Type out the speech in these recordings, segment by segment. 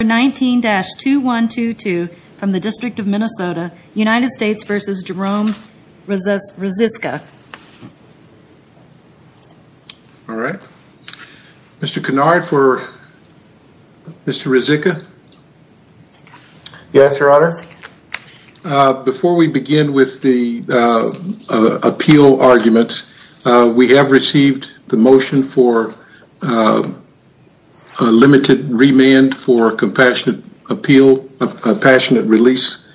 All right. Mr. Kennard for Mr. Ruzicka? Yes, your honor. Before we begin with the appeal arguments, we have received the motion for limited remand for compassionate appeal, a passionate release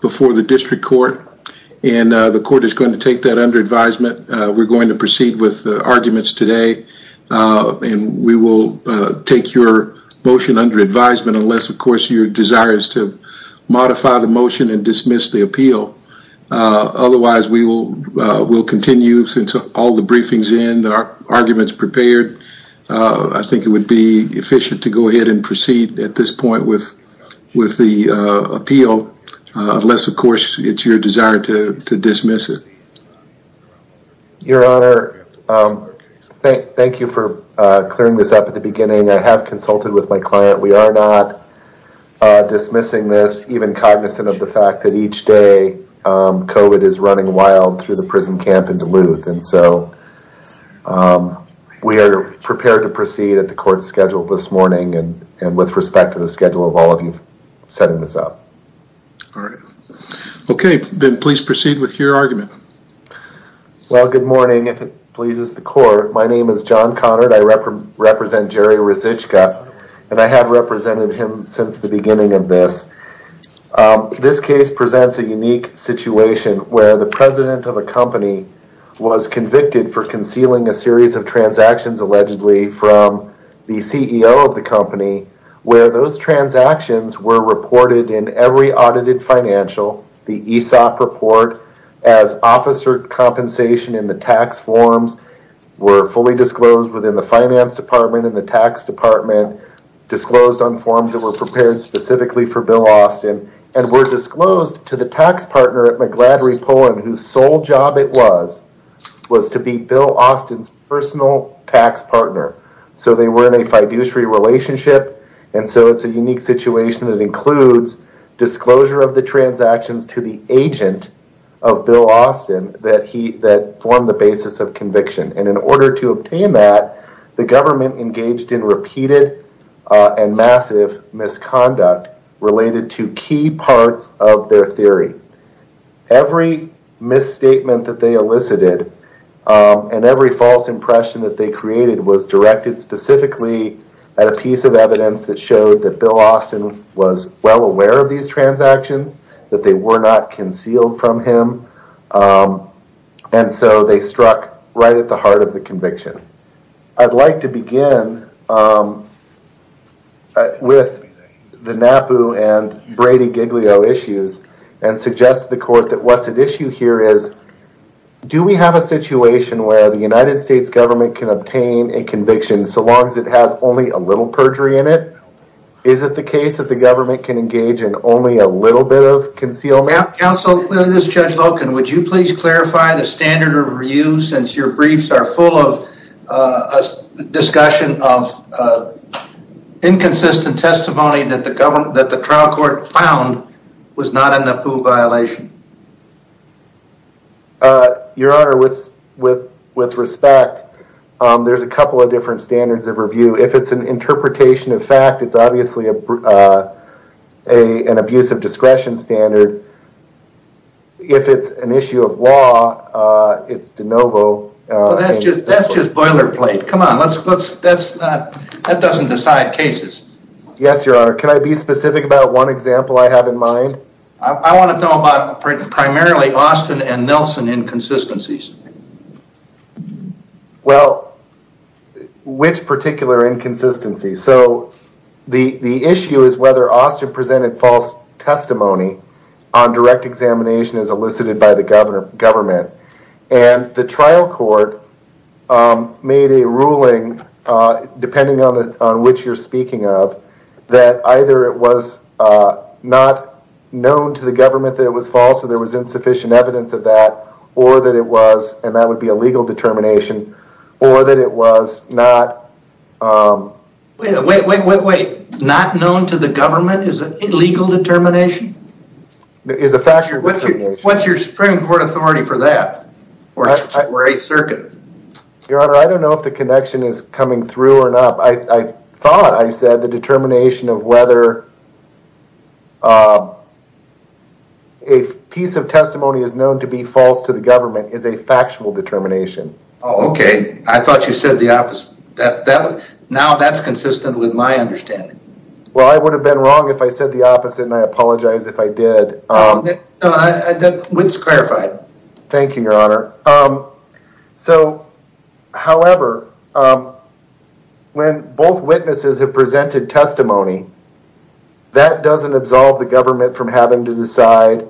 before the district court and the court is going to take that under advisement. We're going to proceed with the arguments today and we will take your motion under advisement unless of course your desire is to modify the motion and dismiss the appeal. Otherwise, we will continue since all the briefings in the arguments prepared. I think it would be efficient to go ahead and proceed at this point with the appeal unless of course it's your desire to dismiss it. Your honor, thank you for clearing this up at the beginning. I have consulted with my client. We are not dismissing this even cognizant of the fact that each day COVID is running wild through the prison camp in Duluth and so we are prepared to proceed at the court's schedule this morning and with respect to the schedule of all of you setting this up. All right. Okay, then please proceed with your argument. Well, good morning if it pleases the court. My name is John Conard. I represent Jerry Resichka and I have represented him since the beginning of this. This case presents a unique situation where the president of a company was convicted for concealing a series of transactions allegedly from the CEO of the company where those transactions were reported in every audited financial. The ESOP report as officer compensation in the tax forms were fully disclosed within the tax department, disclosed on forms that were prepared specifically for Bill Austin and were disclosed to the tax partner at Mcgladrey Pullen whose sole job it was was to be Bill Austin's personal tax partner. So they were in a fiduciary relationship and so it's a unique situation that includes disclosure of the transactions to the agent of Bill Austin that formed the basis of a series of transactions that were produced in repeated and massive misconduct related to key parts of their theory. Every misstatement that they elicited and every false impression that they created was directed specifically at a piece of evidence that showed that Bill Austin was well aware of these transactions that they were not concealed from him and so they struck right at the heart of the conviction. I'd like to begin with the NAPU and Brady Giglio issues and suggest the court that what's at issue here is do we have a situation where the United States government can obtain a conviction so long as it has only a little perjury in it? Is it the case that the government can engage in only a little bit of concealment? Counsel, this is Judge Loken, would you please clarify the standard of review since your briefs are full of a discussion of inconsistent testimony that the trial court found was not a NAPU violation? Your Honor, with respect, there's a couple of different standards of review. If it's an interpretation of fact, it's obviously an abusive discretion standard. If it's an issue of law, it's de novo. That's just boilerplate. Come on, that doesn't decide cases. Yes, your Honor. Can I be specific about one example I have in mind? I want to know about primarily Austin and Nelson inconsistencies. Well, which particular inconsistency? The issue is whether Austin presented false testimony on direct examination as elicited by the government. The trial court made a ruling, depending on which you're speaking of, that either it was not known to the government that it was false or there was insufficient evidence of that or that it was, and that would be a legal determination, or that it was not... Wait, wait, wait, wait. Not known to the government is an illegal determination? Is a factual determination. What's your Supreme Court authority for that? Or a circuit? Your Honor, I don't know if the connection is coming through or not. I thought I said the determination of whether a piece of testimony is known to be false to the government is a factual determination. Okay. I thought you said the opposite. Now that's consistent with my understanding. Well, I would have been wrong if I said the opposite, and I apologize if I did. It's clarified. Thank you, your Honor. So, however, when both witnesses have presented testimony, that doesn't absolve the government from having to decide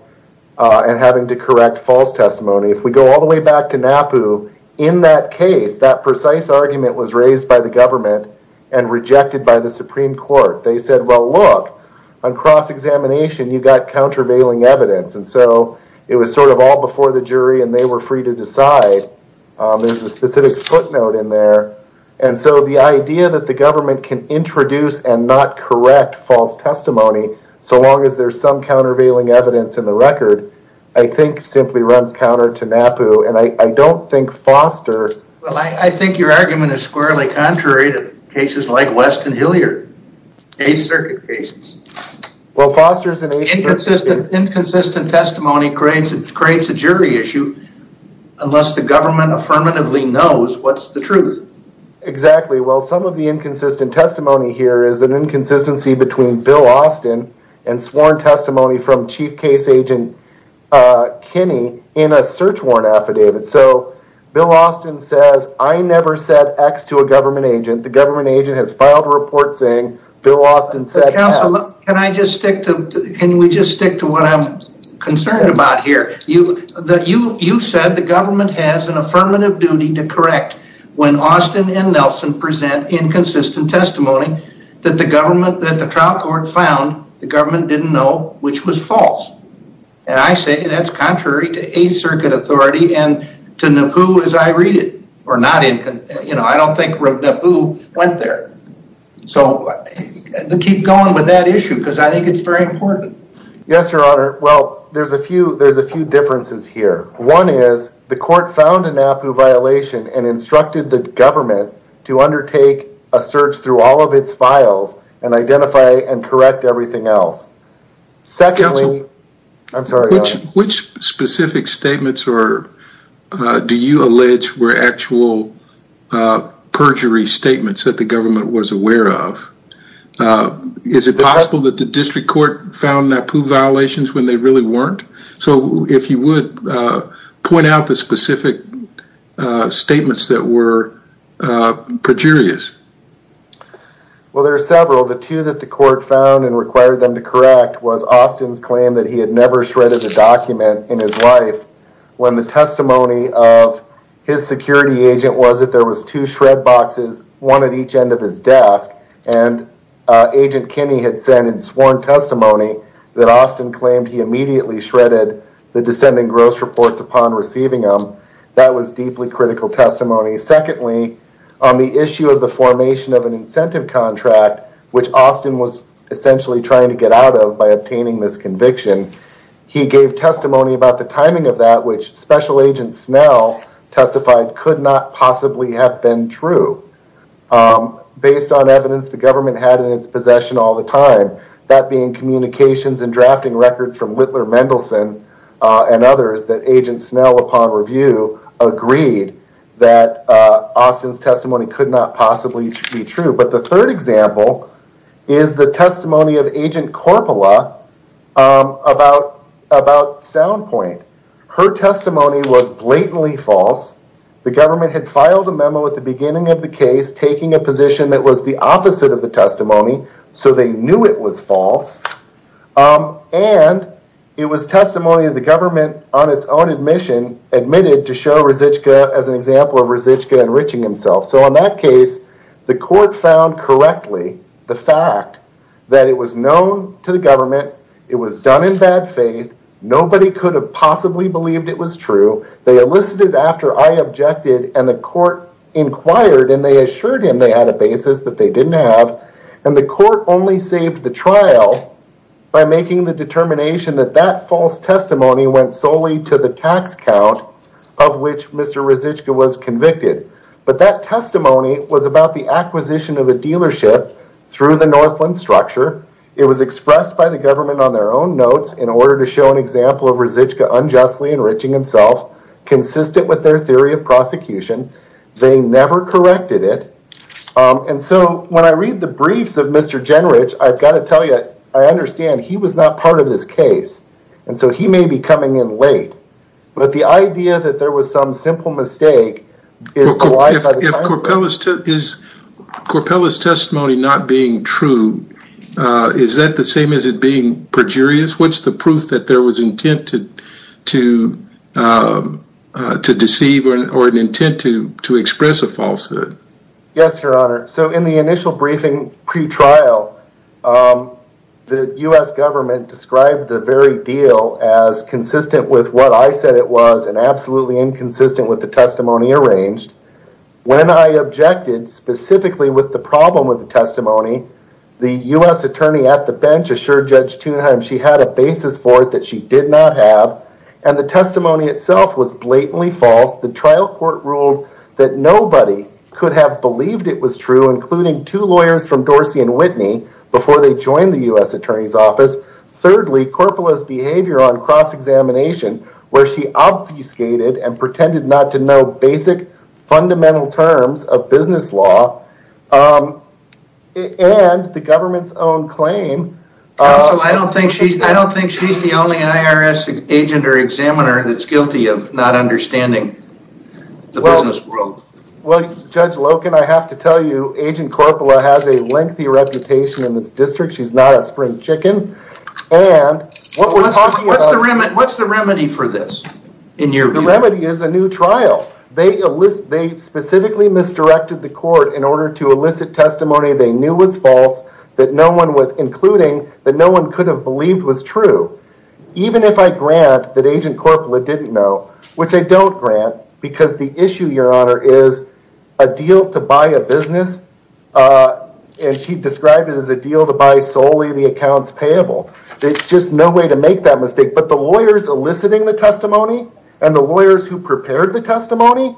and having to correct false testimony. If we go all the way back to NAPU, in that case, that precise argument was raised by the government and rejected by the Supreme Court. They said, well, look, on cross-examination, you got countervailing evidence. And so it was sort of all before the jury and they were free to decide. There's a specific footnote in there. And so the idea that the government can introduce and not correct false testimony, so long as there's some countervailing evidence in the record, I think simply runs counter to NAPU. And I don't think Foster... Well, I think your argument is squarely contrary to cases like West and Hilliard, Eighth Circuit cases. Well, Foster's in Eighth Circuit... Inconsistent testimony creates a jury issue unless the government affirmatively knows what's the truth. Exactly. Well, some of the sworn testimony from Chief Case Agent Kinney in a search warrant affidavit. So Bill Austin says, I never said X to a government agent. The government agent has filed a report saying Bill Austin said X. Counselor, can we just stick to what I'm concerned about here? You said the government has an affirmative duty to correct when Austin and Nelson present inconsistent testimony that the government, that the trial court found the government didn't know, which was false. And I say that's contrary to Eighth Circuit authority and to NAPU as I read it, or not in... I don't think NAPU went there. So keep going with that issue because I think it's very important. Yes, your honor. Well, there's a few differences here. One is the court found a NAPU violation and instructed the government to undertake a search through all of its files and identify and correct everything else. Secondly, I'm sorry... Which specific statements do you allege were actual perjury statements that the government was aware of? Is it possible that the district court found NAPU violations when they really weren't? So if you would point out the specific statements that were perjurious. Well, there are several. The two that the court found and required them to correct was Austin's claim that he had never shredded a document in his life when the testimony of his security agent was that there was two shred boxes, one at each end of his desk. And Agent Kinney had said in sworn testimony that Austin claimed he immediately shredded the descending gross reports upon receiving them. That was deeply critical testimony. Secondly, on the issue of the file formation of an incentive contract, which Austin was essentially trying to get out of by obtaining this conviction, he gave testimony about the timing of that, which Special Agent Snell testified could not possibly have been true. Based on evidence the government had in its possession all the time, that being communications and drafting records from Whitler Mendelsohn and others that Agent Snell, upon review, agreed that Austin's testimony could not possibly be true. But the third example is the testimony of Agent Korpala about SoundPoint. Her testimony was blatantly false. The government had filed a memo at the beginning of the case taking a position that was the opposite of the testimony, so they knew it was false. And it was testimony of the government on its own admission admitted to show Resichka as an example of Resichka enriching himself. So in that case, the court found correctly the fact that it was known to the government, it was done in bad faith, nobody could have possibly believed it was true, they elicited after I objected, and the court inquired and they assured him they had a basis that they didn't have, and the court only the trial by making the determination that that false testimony went solely to the tax count of which Mr. Resichka was convicted. But that testimony was about the acquisition of a dealership through the Northland structure. It was expressed by the government on their own notes in order to show an example of Resichka unjustly enriching himself, consistent with their theory of I understand he was not part of this case, and so he may be coming in late, but the idea that there was some simple mistake. Is Corpella's testimony not being true? Is that the same as it being perjurious? What's the proof that there was intent to deceive or an intent to express a falsehood? Yes, your honor. So in the initial briefing pre-trial, the U.S. government described the very deal as consistent with what I said it was and absolutely inconsistent with the testimony arranged. When I objected specifically with the problem with the testimony, the U.S. attorney at the bench assured Judge Thunheim she had a basis for it that she did not have, and the testimony itself was blatantly false. The trial ruled that nobody could have believed it was true, including two lawyers from Dorsey and Whitney before they joined the U.S. attorney's office. Thirdly, Corpella's behavior on cross-examination where she obfuscated and pretended not to know basic fundamental terms of business law and the government's own claim. Also, I don't think she's the only IRS agent or examiner that's guilty of not understanding the business world. Well, Judge Loken, I have to tell you, Agent Corpella has a lengthy reputation in this district. She's not a spring chicken. What's the remedy for this in your view? The remedy is a new trial. They specifically misdirected the court in order to elicit testimony they knew was false, including that no one could have believed was true, even if I grant that Agent Corpella didn't know, which I don't grant because the issue, Your Honor, is a deal to buy a business, and she described it as a deal to buy solely the accounts payable. There's just no way to make that mistake, but the lawyers eliciting the testimony and the lawyers who prepared the testimony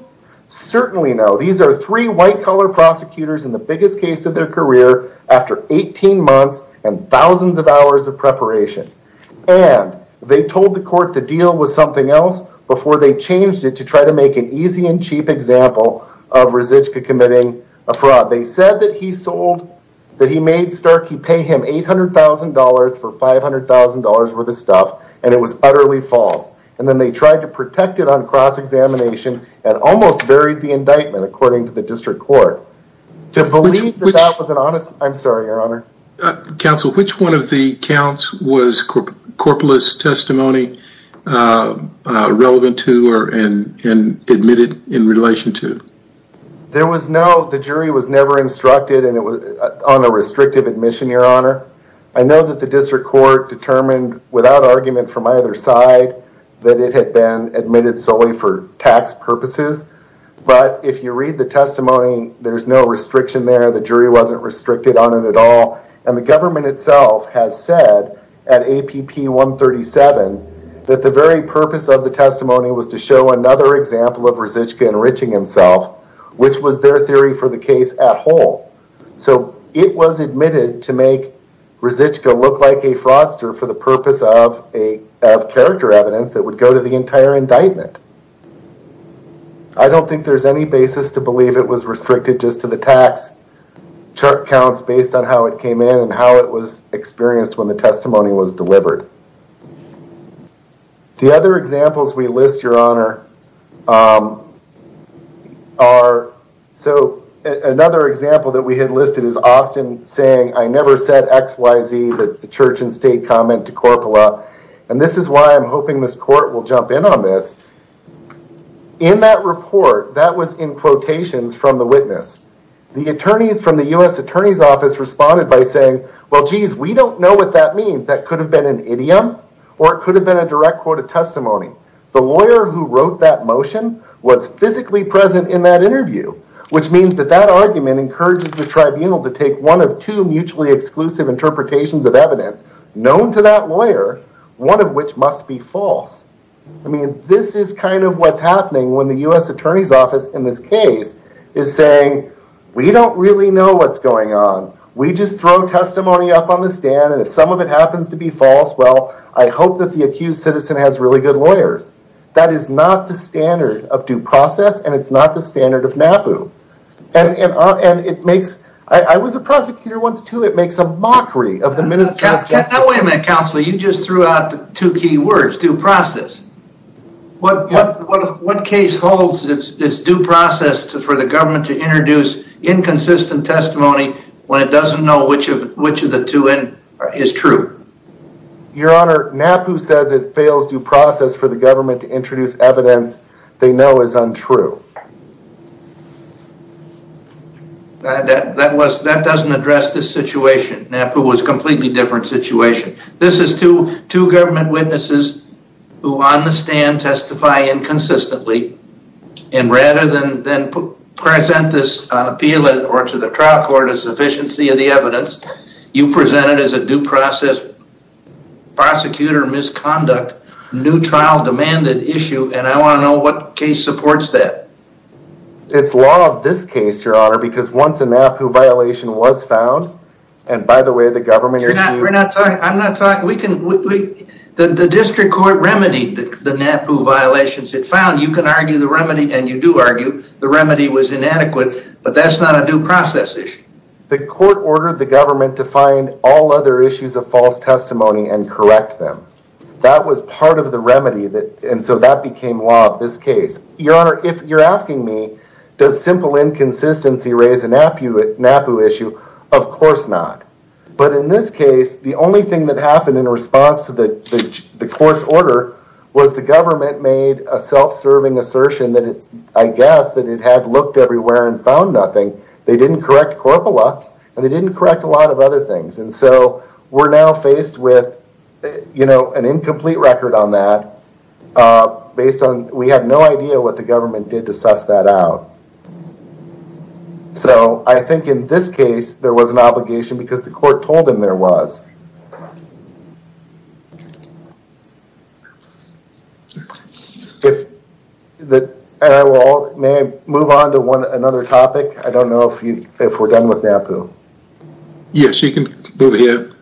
certainly know. These are three white color prosecutors in the biggest case of their career after 18 months and thousands of hours of preparation, and they told the court the deal was something else before they changed it to try to make an easy and cheap example of Resichka committing a fraud. They said that he sold, that he made Starkey pay him $800,000 for $500,000 worth of stuff, and it was utterly false, and then they tried to protect it on cross-examination and almost buried the indictment, according to the district court. To believe that that was an honest... I'm sorry, Your Honor. Counsel, which one of the counts was Corpella's testimony relevant to or and admitted in relation to? There was no... The jury was never instructed on a restrictive admission, Your Honor. I know that the district court determined without argument from either side that it had been admitted solely for tax purposes, but if you read the testimony, there's no restriction there. The government itself has said at APP 137 that the very purpose of the testimony was to show another example of Resichka enriching himself, which was their theory for the case at whole, so it was admitted to make Resichka look like a fraudster for the purpose of character evidence that would go to the entire indictment. I don't think there's any basis to believe it was restricted just to tax counts based on how it came in and how it was experienced when the testimony was delivered. The other examples we list, Your Honor, are... So another example that we had listed is Austin saying, I never said X, Y, Z, the church and state comment to Corpella, and this is why I'm hoping this court will jump in on this. In that report, that was in quotations from the witness. The attorneys from the U.S. Attorney's Office responded by saying, well, geez, we don't know what that means. That could have been an idiom or it could have been a direct quote of testimony. The lawyer who wrote that motion was physically present in that interview, which means that that argument encourages the tribunal to take one of two mutually exclusive interpretations of evidence known to that lawyer, one of which must be false. I mean, this is kind of what's happening when the attorneys from the U.S. Attorney's Office in this case is saying, we don't really know what's going on. We just throw testimony up on the stand, and if some of it happens to be false, well, I hope that the accused citizen has really good lawyers. That is not the standard of due process, and it's not the standard of NAPU. And it makes... I was a prosecutor once, too. It makes a mockery of the Ministry of Justice. Now wait a minute, Counselor, you just threw out the two key words, due process. What case holds this due process for the government to introduce inconsistent testimony when it doesn't know which of the two is true? Your Honor, NAPU says it fails due process for the government to introduce evidence they know is untrue. That doesn't address this who on the stand testify inconsistently, and rather than present this on appeal or to the trial court as sufficiency of the evidence, you present it as a due process, prosecutor misconduct, new trial demanded issue, and I want to know what case supports that. It's law of this case, Your Honor, because once a NAPU violation was found, and by the way, we're not talking... I'm not talking... The district court remedied the NAPU violations. It found you can argue the remedy, and you do argue the remedy was inadequate, but that's not a due process issue. The court ordered the government to find all other issues of false testimony and correct them. That was part of the remedy, and so that became law of this case. Your Honor, if you're asking me, does simple inconsistency raise a NAPU issue? Of course not, but in this case, the only thing that happened in response to the court's order was the government made a self-serving assertion that I guess that it had looked everywhere and found nothing. They didn't correct corpora, and they didn't correct a lot of other things, and so we're now faced with an incomplete record on that based on we have no idea what the government did to suss that out. I think in this case, there was an obligation because the court told them there was. I will move on to another topic. I don't know if we're done with NAPU. Yes, you can move ahead.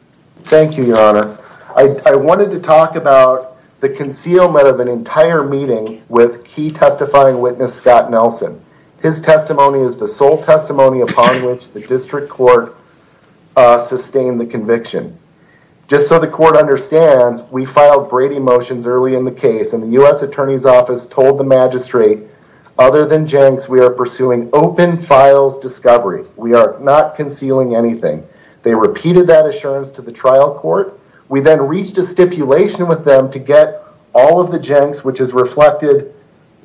Thank you, Your Honor. I wanted to talk about the concealment of an entire meeting with key testifying witness, Scott Nelson. His testimony is the sole testimony upon which the district court sustained the conviction. Just so the court understands, we filed Brady motions early in the case, and the U.S. Attorney's Office told the magistrate, other than Jenks, we are pursuing open files discovery. We are not concealing anything. They repeated that assurance to the trial court. We then reached a stipulation with them to get all of the Jenks, which is reflected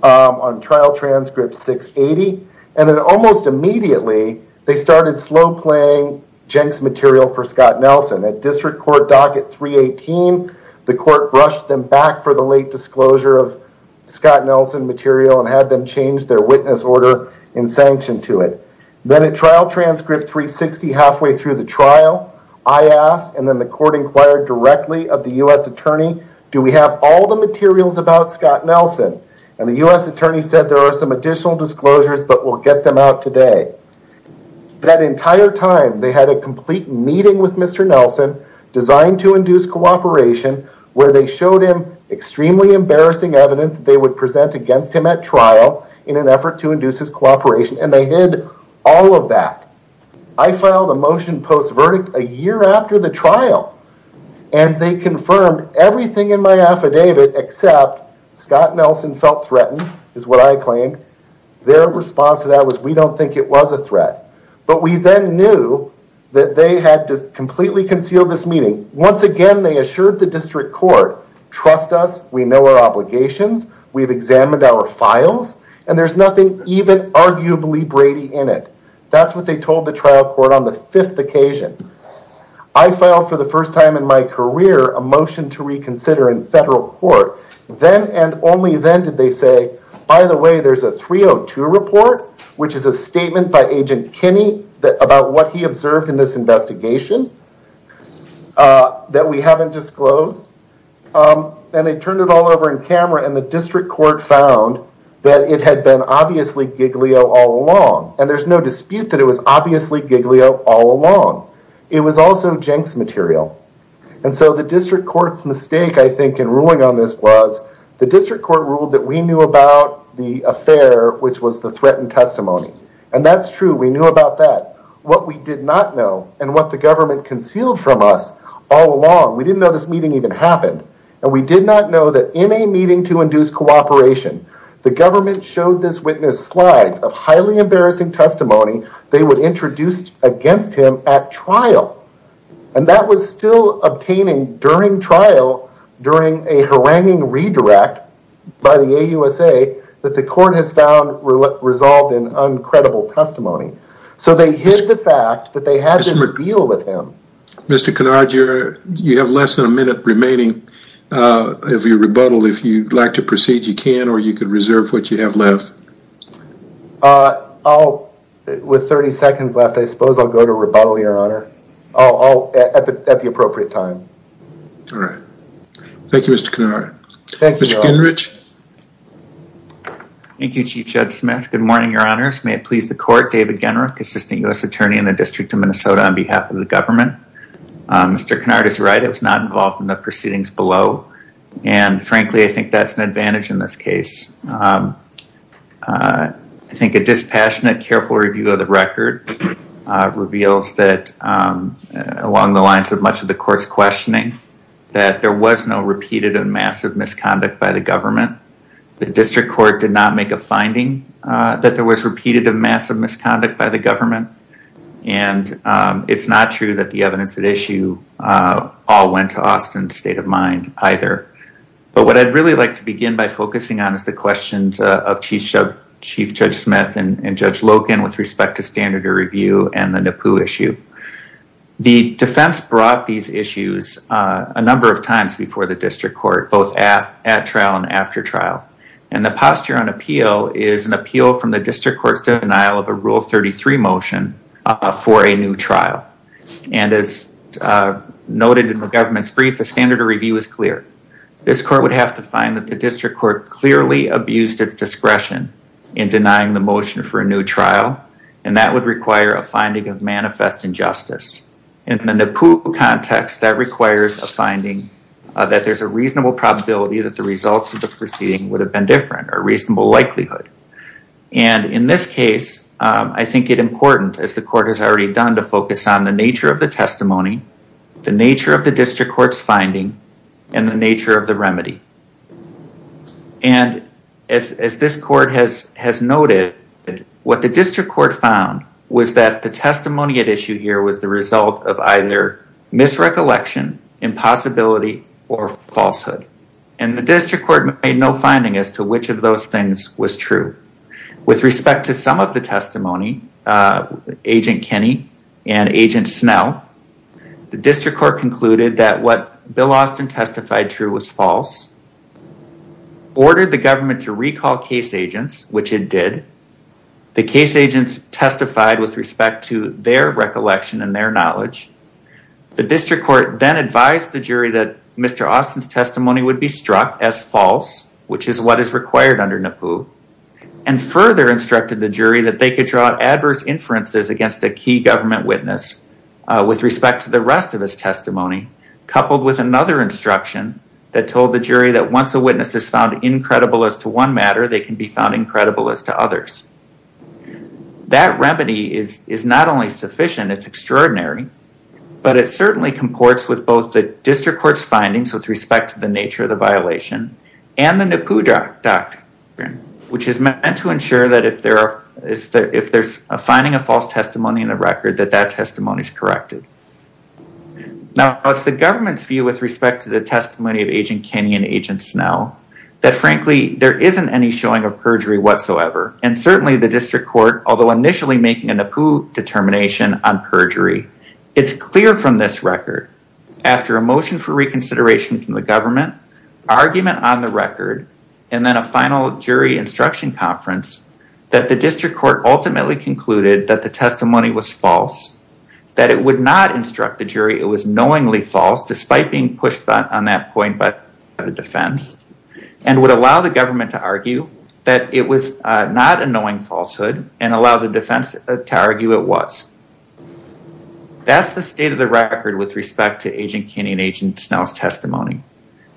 on Trial Transcript 680, and then almost immediately, they started slow playing Jenks material for Scott Nelson. At District Court Docket 318, the court brushed them back for the late disclosure of Scott Nelson material and had them change their witness order in sanction to it. Then at Trial Transcript 360, halfway through the trial, I asked and then the court inquired directly of the U.S. Attorney, do we have all the materials about Scott Nelson? And the U.S. Attorney said there are some additional disclosures, but we'll get them out today. That entire time, they had a complete meeting with Mr. Nelson designed to induce cooperation, where they showed him extremely embarrassing evidence they would present against him at trial in an effort to induce his cooperation, and they hid all of that. I filed a motion post-verdict a year after the trial, and they confirmed everything in my affidavit except Scott Nelson felt threatened, is what I claimed. Their response to that was we don't think it was a threat. But we then knew that they had completely concealed this meeting. Once again, they assured the District Court, trust us, we know our obligations, we've examined our files, and there's nothing even arguably Brady in it. That's what they told the trial court on the fifth occasion. I filed for the first time in my career a motion to reconsider in federal court. Then and only then did they say, by the way, there's a 302 report, which is a statement by Agent Kinney about what he observed in this investigation that we haven't disclosed. They turned it all over in camera, and the District Court found that it had been obviously Giglio all along. There's no dispute that it was obviously Giglio all along. It was also Jenks material. The District Court's mistake, I think, in ruling on this was the District Court ruled that we knew about the affair, which was the threatened testimony. That's true, we knew about that. What we did not know and what the government concealed from us all along, we didn't know this meeting even happened. We did not know that in a meeting to induce cooperation, the government showed this witness slides of highly embarrassing testimony they would introduce against him at trial. That was still obtaining during trial, during a haranguing redirect by the AUSA that the court has found resolved in uncredible testimony. They hid the fact that they had a deal with him. Mr. Kennard, you have less than a minute remaining if you rebuttal. If you'd like to proceed, you can, or you could reserve what you have left. I'll, with 30 seconds left, I suppose I'll go to rebuttal, your honor. Oh, at the appropriate time. All right. Thank you, Mr. Kennard. Thank you, Mr. Gingrich. Thank you, Chief Judd Smith. Good morning, your honors. May it please the court, David on behalf of the government. Mr. Kennard is right. It was not involved in the proceedings below. And frankly, I think that's an advantage in this case. I think a dispassionate, careful review of the record reveals that along the lines of much of the court's questioning, that there was no repeated and massive misconduct by the government. The district court did not make a finding that was repeated of massive misconduct by the government. And it's not true that the evidence at issue all went to Austin's state of mind either. But what I'd really like to begin by focusing on is the questions of Chief Judge Smith and Judge Loken with respect to standard of review and the NAPU issue. The defense brought these issues a number of times before the district court, both at trial and after trial. And the posture on appeal is an appeal from the district court's denial of a rule 33 motion for a new trial. And as noted in the government's brief, the standard of review is clear. This court would have to find that the district court clearly abused its discretion in denying the motion for a new trial. And that would require a finding of manifest injustice. In the NAPU context, that requires a finding that there's a reasonable probability that the results of the proceeding would have been different, a reasonable likelihood. And in this case, I think it's important, as the court has already done, to focus on the nature of the testimony, the nature of the district court's finding, and the nature of the remedy. And as this court has noted, what the district court found was that the testimony at issue here was the result of either misrecollection, impossibility, or falsehood. And the district court made no finding as to which of those things was true. With respect to some of the testimony, Agent Kinney and Agent Snell, the district court concluded that what Bill Austin testified true was false, ordered the government to recall case agents, which it did. The case agents testified with respect to their recollection and their knowledge. The district court then advised the jury that Mr. Austin's testimony would be struck as false, which is what is required under NAPU, and further instructed the jury that they could draw adverse inferences against a key government witness with respect to the rest of his testimony, coupled with another instruction that told the jury that once a witness is found incredible as to one matter, they can be found incredible as to others. That remedy is not only sufficient, it's extraordinary, but it certainly comports with both the district court's findings with respect to the nature of the violation, and the NAPU doctrine, which is meant to ensure that if there's a finding of false testimony in the record, that that testimony is corrected. Now, what's the government's view with respect to the testimony of Agent Kinney and Agent Snell? That frankly, there isn't any showing of perjury whatsoever, and certainly the district court, although initially making a NAPU determination on perjury, it's clear from this record, after a motion for reconsideration from the government, argument on the record, and then a final jury instruction conference, that the district court ultimately concluded that the testimony was false, that it would not instruct the jury it was a defense, and would allow the government to argue that it was not a knowing falsehood, and allow the defense to argue it was. That's the state of the record with respect to Agent Kinney and Agent Snell's testimony.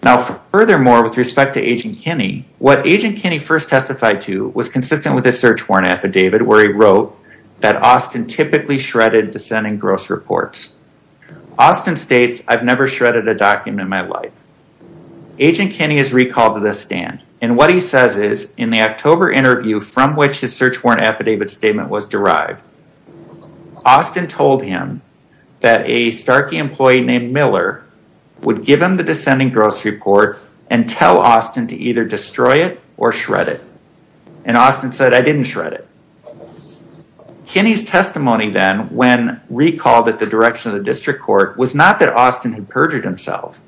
Now, furthermore, with respect to Agent Kinney, what Agent Kinney first testified to was consistent with a search warrant affidavit, where he wrote that Austin typically shredded dissenting gross reports. Austin states, I've never shredded a gross report in my life. Agent Kinney is recalled to the stand, and what he says is, in the October interview from which his search warrant affidavit statement was derived, Austin told him that a Starkey employee named Miller would give him the dissenting gross report and tell Austin to either destroy it or shred it, and Austin said, I didn't shred it. Kinney's testimony then, when recalled at the direction of the district court, was not that Austin had perjured himself,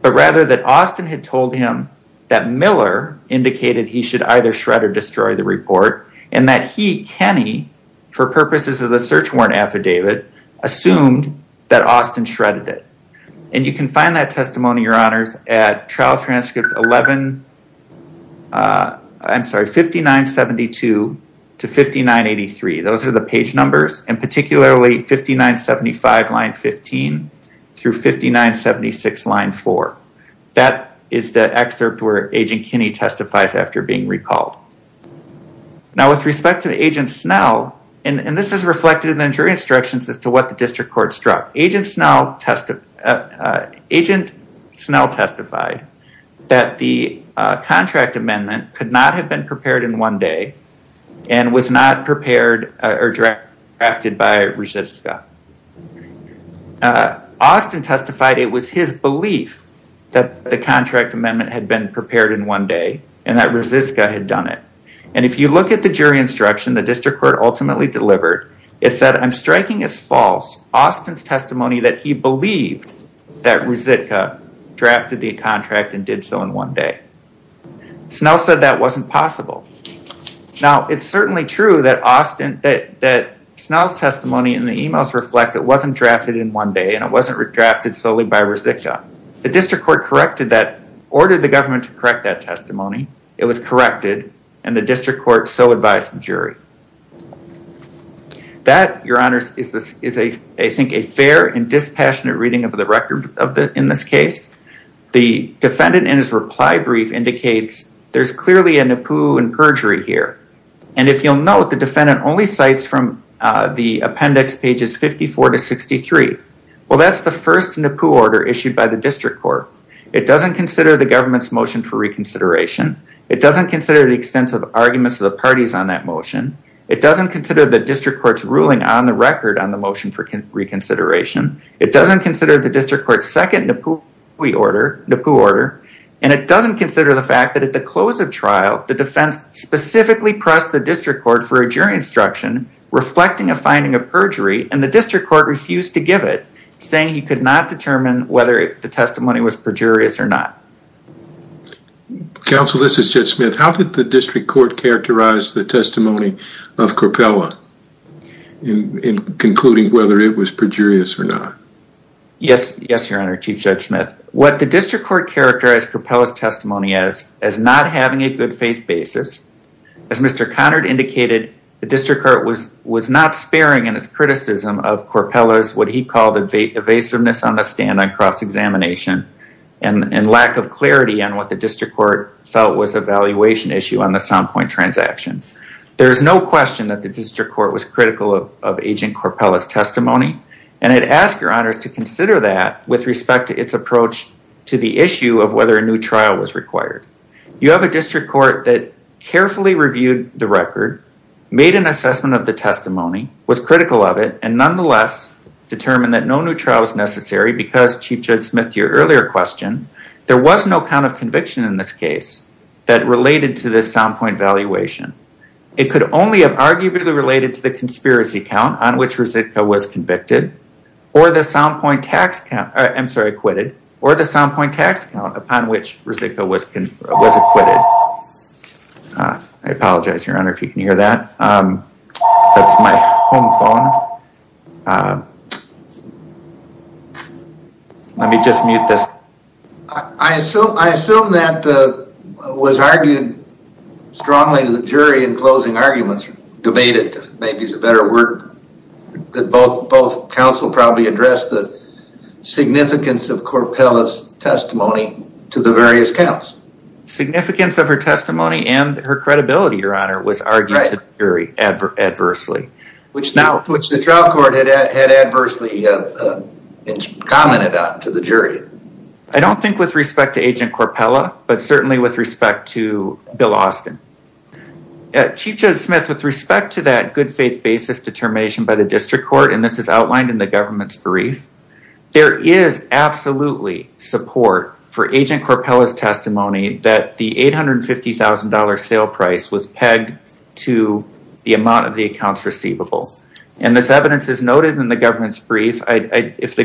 but rather that Austin had told him that Miller indicated he should either shred or destroy the report, and that he, Kinney, for purposes of the search warrant affidavit, assumed that Austin shredded it. And you can find that testimony, your honors, at trial transcript 11, I'm sorry, 5972 to 5983. Those are the page numbers, and particularly 5975 line 15 through 5976 line 4. That is the excerpt where Agent Kinney testifies after being recalled. Now, with respect to Agent Snell, and this is reflected in the jury instructions as to what the district court struck, Agent Snell testified that the contract amendment could not have been prepared in one day and was not prepared or drafted by Rosicka. Austin testified it was his belief that the contract amendment had been prepared in one day and that Rosicka had done it. And if you look at the jury instruction, the district court ultimately delivered, it said, I'm striking as false Austin's testimony that he believed that Rosicka drafted the contract and did so in one day. Snell said that wasn't possible. Now, it's certainly true that Austin, that Snell's testimony in the emails reflect it wasn't drafted in one day and it wasn't drafted solely by Rosicka. The district court corrected that, ordered the government to correct that testimony. It was corrected, and the district court so advised the jury. That, your honors, is I think a fair and dispassionate reading of the record in this case. The defendant in his reply brief indicates there's clearly a NIPU and perjury here. And if you'll note, the defendant only cites from the appendix pages 54 to 63. Well, that's the first NIPU order issued by the district court. It doesn't consider the government's motion for reconsideration. It doesn't consider the extensive arguments of the parties on that motion. It doesn't consider the district court's ruling on the record on the motion for reconsideration. It doesn't consider the district court's second NIPU order, and it doesn't consider the fact that at the close of trial, the defense specifically pressed the district court for a jury instruction reflecting a finding of perjury, and the district court refused to give it, saying he could not determine whether the testimony was perjurious or not. Counsel, this is Jed Smith. How did the district court characterize the testimony of Corpella in concluding whether it was perjurious or not? Yes, your honor, Chief Jed Smith. What the district court characterized Corpella's testimony as, as not having a good faith basis. As Mr. Conard indicated, the district court was not sparing in its criticism of Corpella's what he called evasiveness on the stand on cross-examination and lack of clarity on what was critical of Agent Corpella's testimony, and it asked your honors to consider that with respect to its approach to the issue of whether a new trial was required. You have a district court that carefully reviewed the record, made an assessment of the testimony, was critical of it, and nonetheless determined that no new trial was necessary because, Chief Jed Smith, your earlier question, there was no count of conviction in this case that related to this sound point valuation. It could only have arguably related to the conspiracy count on which Rezicka was convicted or the sound point tax count, I'm sorry, acquitted or the sound point tax count upon which Rezicka was acquitted. I apologize, your honor, if you can hear that. That's my home phone. Let me just mute this. I assume that was argued strongly to the jury in closing arguments, debated, maybe is a better word, that both counsel probably addressed the significance of Corpella's testimony to the various counts. Significance of her testimony and her credibility, your honor, was argued to the jury adversely. Which the trial court had adversely commented on to the jury. I don't think with respect to Agent Corpella, but certainly with respect to Bill Austin. Chief Jed Smith, with respect to that good faith basis determination by the district court, and this is outlined in the government's brief, there is absolutely support for Agent Corpella's was pegged to the amount of the accounts receivable. And this evidence is noted in the government's brief. If the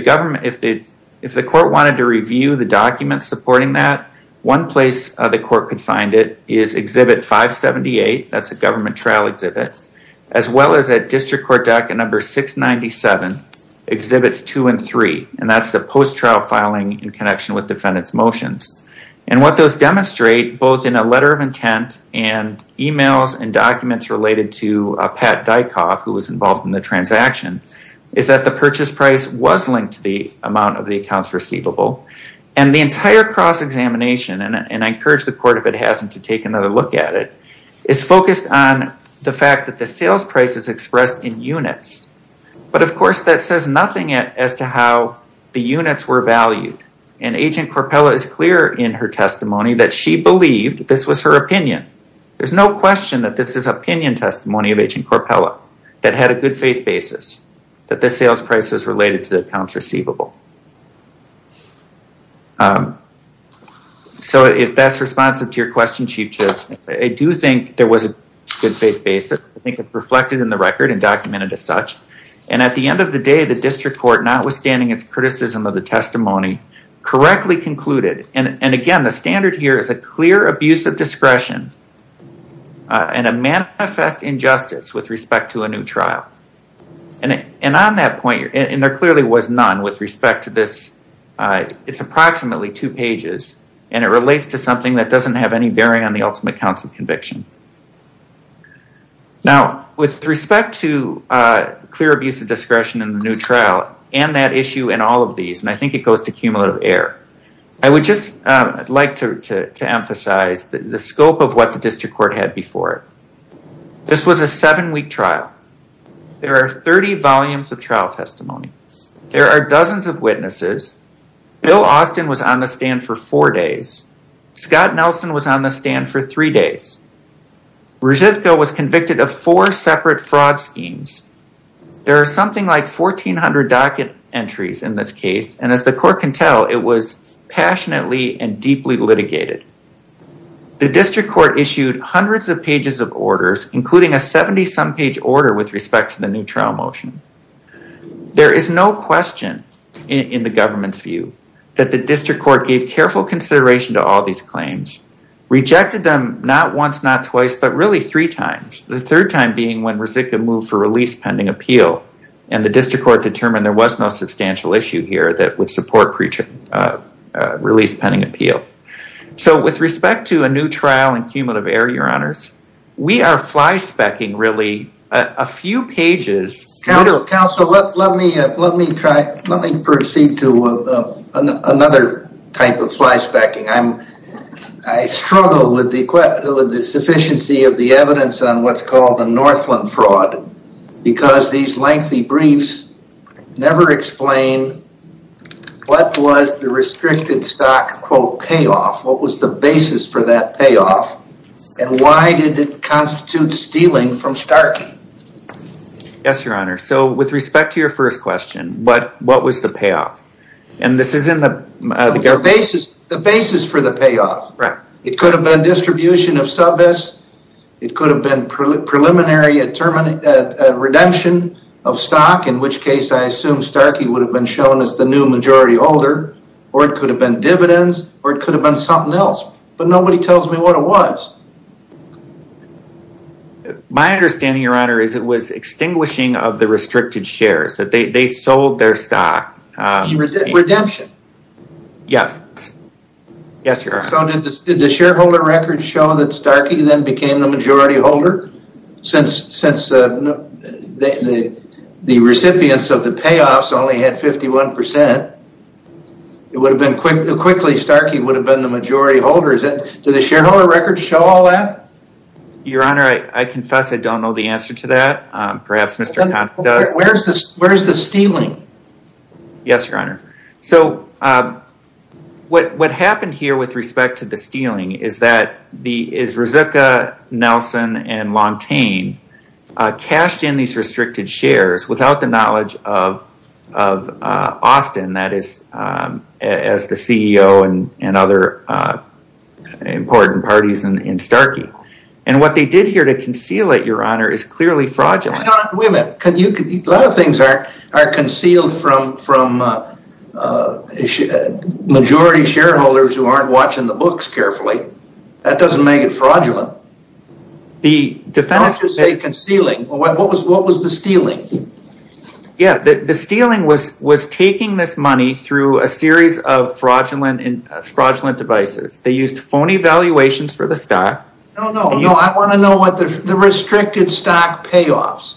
court wanted to review the documents supporting that, one place the court could find it is exhibit 578, that's a government trial exhibit, as well as at district court docket number 697, exhibits two and three. And that's the post trial filing in connection with defendant's motions. And what those demonstrate, both in a letter of e-mails and documents related to Pat Dyckhoff, who was involved in the transaction, is that the purchase price was linked to the amount of the accounts receivable. And the entire cross examination, and I encourage the court if it hasn't to take another look at it, is focused on the fact that the sales price is expressed in units. But of course that says nothing as to how the units were valued. And Agent Corpella is clear in her testimony that she believed this was her opinion. There's no question that this is opinion testimony of Agent Corpella that had a good faith basis, that the sales price is related to the accounts receivable. So if that's responsive to your question, Chief Justice, I do think there was a good faith basis. I think it's reflected in the record and documented as such. And at the end of the day, the district court, notwithstanding its criticism of the testimony, correctly concluded, and again, the standard here is a clear abuse of discretion and a manifest injustice with respect to a new trial. And on that point, and there clearly was none with respect to this, it's approximately two pages, and it relates to something that doesn't have any bearing on the ultimate counts of conviction. Now, with respect to clear abuse of discretion in the new trial and that issue and all of these, and I think it goes to cumulative error, I would just like to emphasize the scope of what the district court had before it. This was a seven-week trial. There are 30 volumes of trial testimony. There are dozens of witnesses. Bill Austin was on the stand for four days. Scott Nelson was on the stand for three days. Brzezinska was convicted of four separate schemes. There are something like 1400 docket entries in this case. And as the court can tell, it was passionately and deeply litigated. The district court issued hundreds of pages of orders, including a 70-some page order with respect to the new trial motion. There is no question in the government's view that the district court gave careful consideration to all these claims, rejected them not once, not twice, but really three times. The third time being when Brzezinska moved for release pending appeal. And the district court determined there was no substantial issue here that would support release pending appeal. So with respect to a new trial and cumulative error, your honors, we are flyspecking really a few pages. Counsel, let me proceed to another type of flyspecking. I struggle with the sufficiency of the evidence on what's called the Northland fraud because these lengthy briefs never explain what was the restricted stock quote payoff, what was the basis for that payoff, and why did it constitute stealing from Starkey? Yes, your honor. So with respect to your first question, what was the payoff? And this is in the basis for the payoff. It could have been redistribution of subists, it could have been preliminary redemption of stock, in which case I assume Starkey would have been shown as the new majority holder, or it could have been dividends, or it could have been something else. But nobody tells me what it was. My understanding, your honor, is it was extinguishing of the restricted shares, that they sold their stock. Redemption? Yes, yes, your honor. So did the shareholder record show that Starkey then became the majority holder? Since the recipients of the payoffs only had 51 percent, it would have been quickly Starkey would have been the majority holder. Did the shareholder record show all that? Your honor, I confess I don't know the answer to that. Perhaps Mr. Kahn does. Where's the stealing? Yes, your honor. So what happened here with respect to the stealing is that Rizuka, Nelson, and Lontane cashed in these restricted shares without the knowledge of Austin, that is, as the CEO and other important parties in Starkey. And what they did here to conceal it, your honor, is clearly fraudulent. Wait a minute. A lot of things are are concealed from majority shareholders who aren't watching the books carefully. That doesn't make it fraudulent. The defenders say concealing. What was the stealing? Yeah, the stealing was taking this money through a series of fraudulent devices. They used phony valuations for the stock. I want to know what the restricted stock payoffs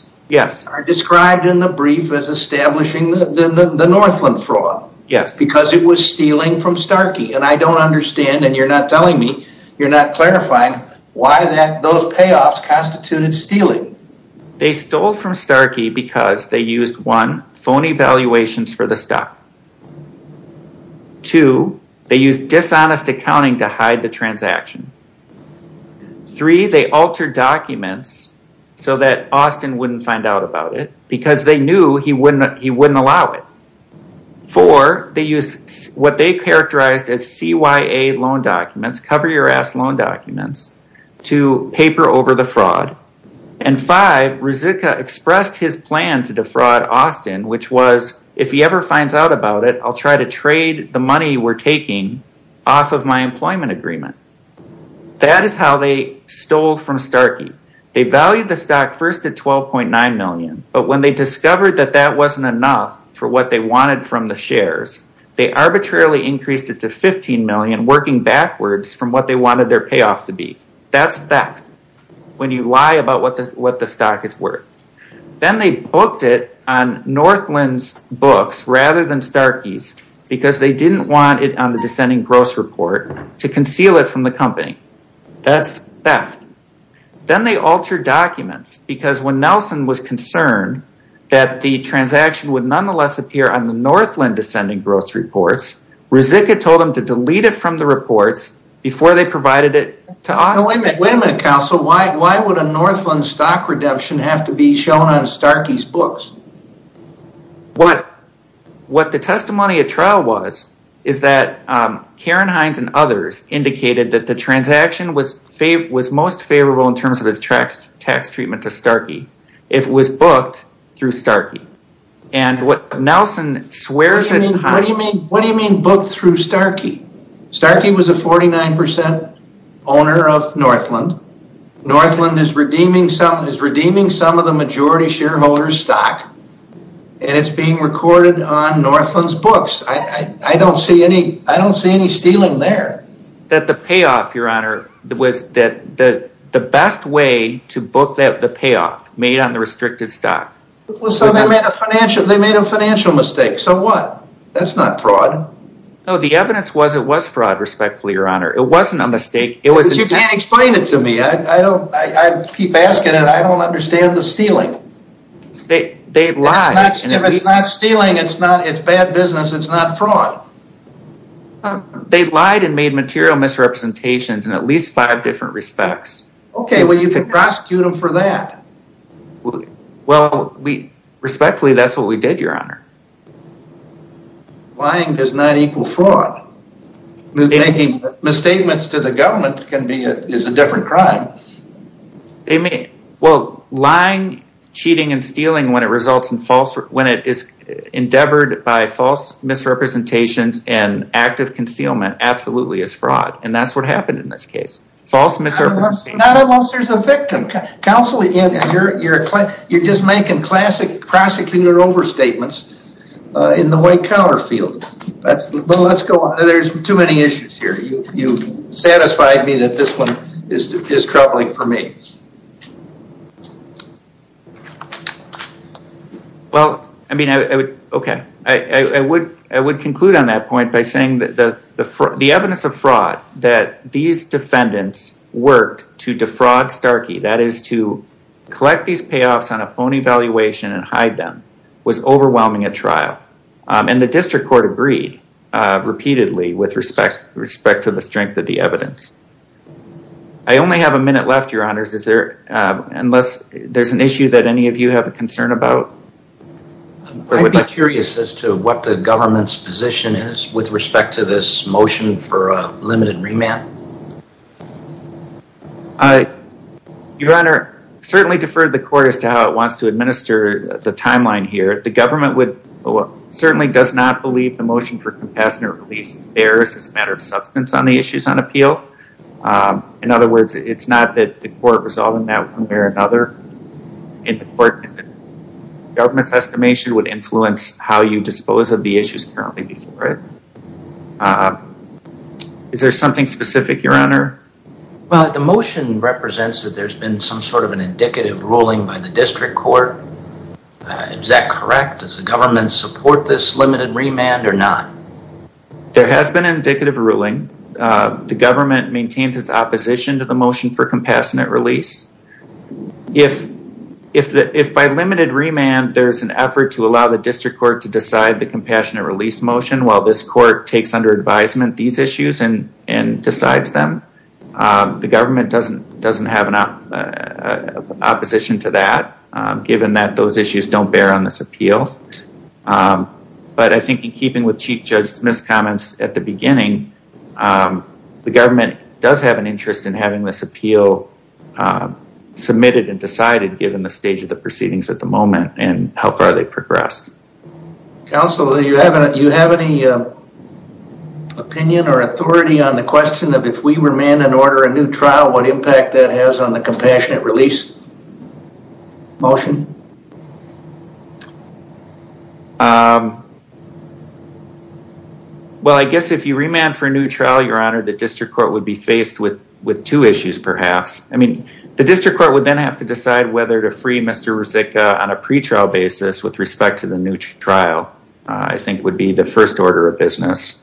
are described in the brief as establishing the Northland fraud because it was stealing from Starkey. And I don't understand, and you're not telling me, you're not clarifying why those payoffs constituted stealing. They stole from Starkey because they used, one, phony valuations for the stock. Two, they used dishonest accounting to hide the transaction. Three, they altered documents so that Austin wouldn't find out about it because they knew he wouldn't allow it. Four, they used what they characterized as CYA loan documents, cover your ass loan documents, to paper over the fraud. And five, Rizuka expressed his plan to defraud Austin, which was if he ever finds out about it, I'll try to trade the money we're taking off of my employment agreement. That is how they stole from Starkey. They valued the stock first at $12.9 million, but when they discovered that that wasn't enough for what they wanted from the shares, they arbitrarily increased it to $15 million, working backwards from what they wanted their payoff to be. That's theft when you lie about what the stock is worth. Then they booked it on Northland's books rather than Starkey's because they didn't want it on the descending gross report to conceal it from the company. That's theft. Then they altered documents because when Nelson was concerned that the transaction would nonetheless appear on the Northland descending gross reports, Rizuka told them to delete it from the reports before they provided it to Austin. Wait a minute, Council. Why would a Northland stock redemption have to be shown on Northland? What the testimony at trial was is that Karen Hines and others indicated that the transaction was most favorable in terms of its tax treatment to Starkey if it was booked through Starkey. What do you mean booked through Starkey? Starkey was a 49% owner of Northland. Northland is redeeming some of the majority shareholder's stock and it's being recorded on Northland's books. I don't see any stealing there. The payoff, Your Honor, was the best way to book the payoff made on the restricted stock. They made a financial mistake. So what? That's not fraud. No, the evidence was it was fraud, respectfully, Your Honor. It wasn't a mistake. You can't explain it to me. I keep asking and I don't understand the stealing. They lied. It's not stealing. It's bad business. It's not fraud. They lied and made material misrepresentations in at least five different respects. Okay, well, you can prosecute them for that. Well, respectfully, that's what we did, Your Honor. Lying does not equal fraud. Making misstatements to the government can be a different crime. They may. Well, lying, cheating, and stealing when it is endeavored by false misrepresentations and active concealment absolutely is fraud. And that's what happened in this case. False misrepresentations. Not unless there's a victim. Counselor, you're just making classic prosecutor overstatements in the white counter field. Well, let's go on. There's too many issues here. You've satisfied me that this one is troubling for me. Well, I mean, okay, I would conclude on that point by saying that the evidence of fraud that these defendants worked to defraud Starkey, that is to collect these payoffs on a phony valuation and hide them, was overwhelming at trial. And the district court agreed repeatedly with respect to the strength of the evidence. I only have a minute left, Your Honors. Unless there's an issue that any of you have a concern about? I'd be curious as to what the government's position is with respect to this motion for a limited remand. Your Honor, I certainly defer to the court as to how it wants to administer the timeline here. The government certainly does not believe the motion for compassionate release bears as a matter of substance on the issues on appeal. In other words, it's not that the court resolved in that one way or another. Government's estimation would influence how you dispose of the issues currently before it. Is there something specific, Your Honor? Well, the motion represents that there's been some sort of an indicative ruling by the district court. Is that correct? Does the government support this limited remand or not? There has been indicative ruling. The government maintains its opposition to the motion for compassionate release. If by limited remand, there's an effort to allow the under advisement these issues and decides them, the government doesn't have an opposition to that given that those issues don't bear on this appeal. But I think in keeping with Chief Judge Smith's comments at the beginning, the government does have an interest in having this appeal submitted and decided given the stage of the proceedings at the moment and how far they can go. Opinion or authority on the question of if we remand and order a new trial, what impact that has on the compassionate release motion? Well, I guess if you remand for a new trial, Your Honor, the district court would be faced with two issues perhaps. I mean, the district court would then have to decide whether to free Mr. Ruzicka on a pretrial basis with respect to the new trial, I think would be the first order of business.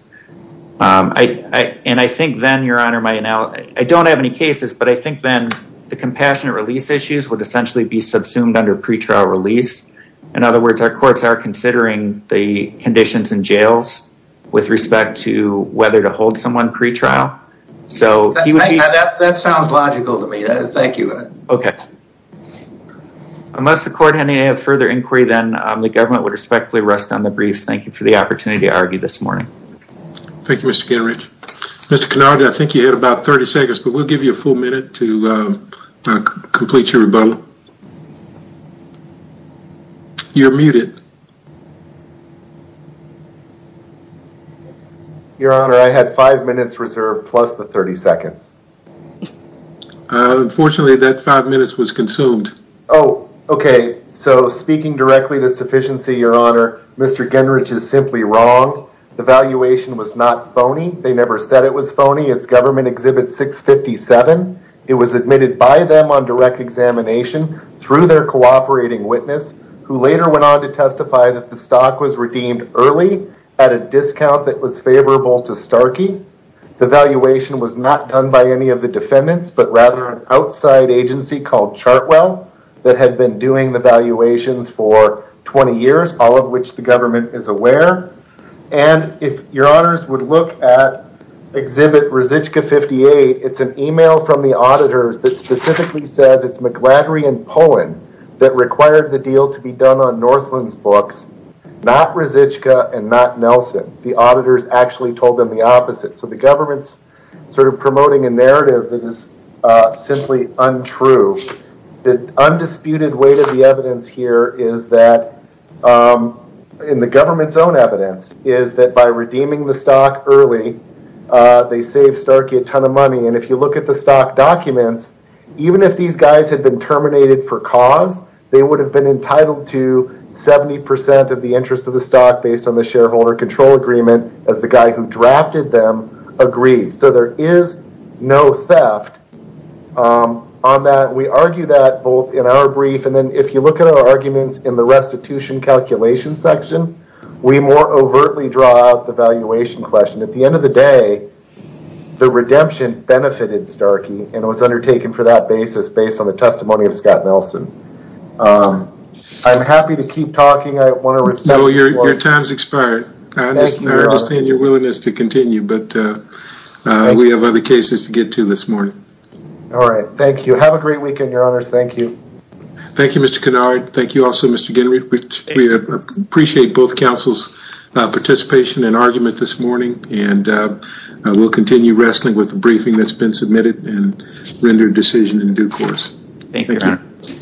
And I think then, Your Honor, I don't have any cases, but I think then the compassionate release issues would essentially be subsumed under pretrial release. In other words, our courts are considering the conditions in jails with respect to whether to hold someone pretrial. That sounds logical to me. Thank you. Okay. Unless the court had any further inquiry, then the government would rest on the briefs. Thank you for the opportunity to argue this morning. Thank you, Mr. Kenridge. Mr. Kenridge, I think you had about 30 seconds, but we'll give you a full minute to complete your rebuttal. You're muted. Your Honor, I had five minutes reserved plus the 30 seconds. Unfortunately, that five minutes was consumed. Oh, okay. So speaking directly to sufficiency, Your Honor, Mr. Kenridge is simply wrong. The valuation was not phony. They never said it was phony. It's government exhibit 657. It was admitted by them on direct examination through their cooperating witness, who later went on to testify that the stock was redeemed early at a discount that was favorable to Starkey. The valuation was not done by any of the defendants, but rather an for 20 years, all of which the government is aware. And if Your Honors would look at exhibit Rosicka 58, it's an email from the auditors that specifically says it's McGladrey and Poland that required the deal to be done on Northland's books, not Rosicka and not Nelson. The auditors actually told them the opposite. So the government's sort of promoting a narrative that is simply untrue. The undisputed weight of the evidence here is that, in the government's own evidence, is that by redeeming the stock early, they save Starkey a ton of money. And if you look at the stock documents, even if these guys had been terminated for cause, they would have been entitled to 70% of the interest of the stock based on the shareholder control agreement as the guy who drafted them agreed. So there is no theft on that. We argue that both in our brief and then if you look at our arguments in the restitution calculation section, we more overtly draw out the valuation question. At the end of the day, the redemption benefited Starkey and was undertaken for that basis based on the testimony of Scott Nelson. I'm happy to keep talking. I want to continue, but we have other cases to get to this morning. All right. Thank you. Have a great weekend, Your Honors. Thank you. Thank you, Mr. Kennard. Thank you also, Mr. Genry. We appreciate both counsel's participation and argument this morning, and we'll continue wrestling with the briefing that's been submitted and rendered decision in due course. Thank you, Your Honor.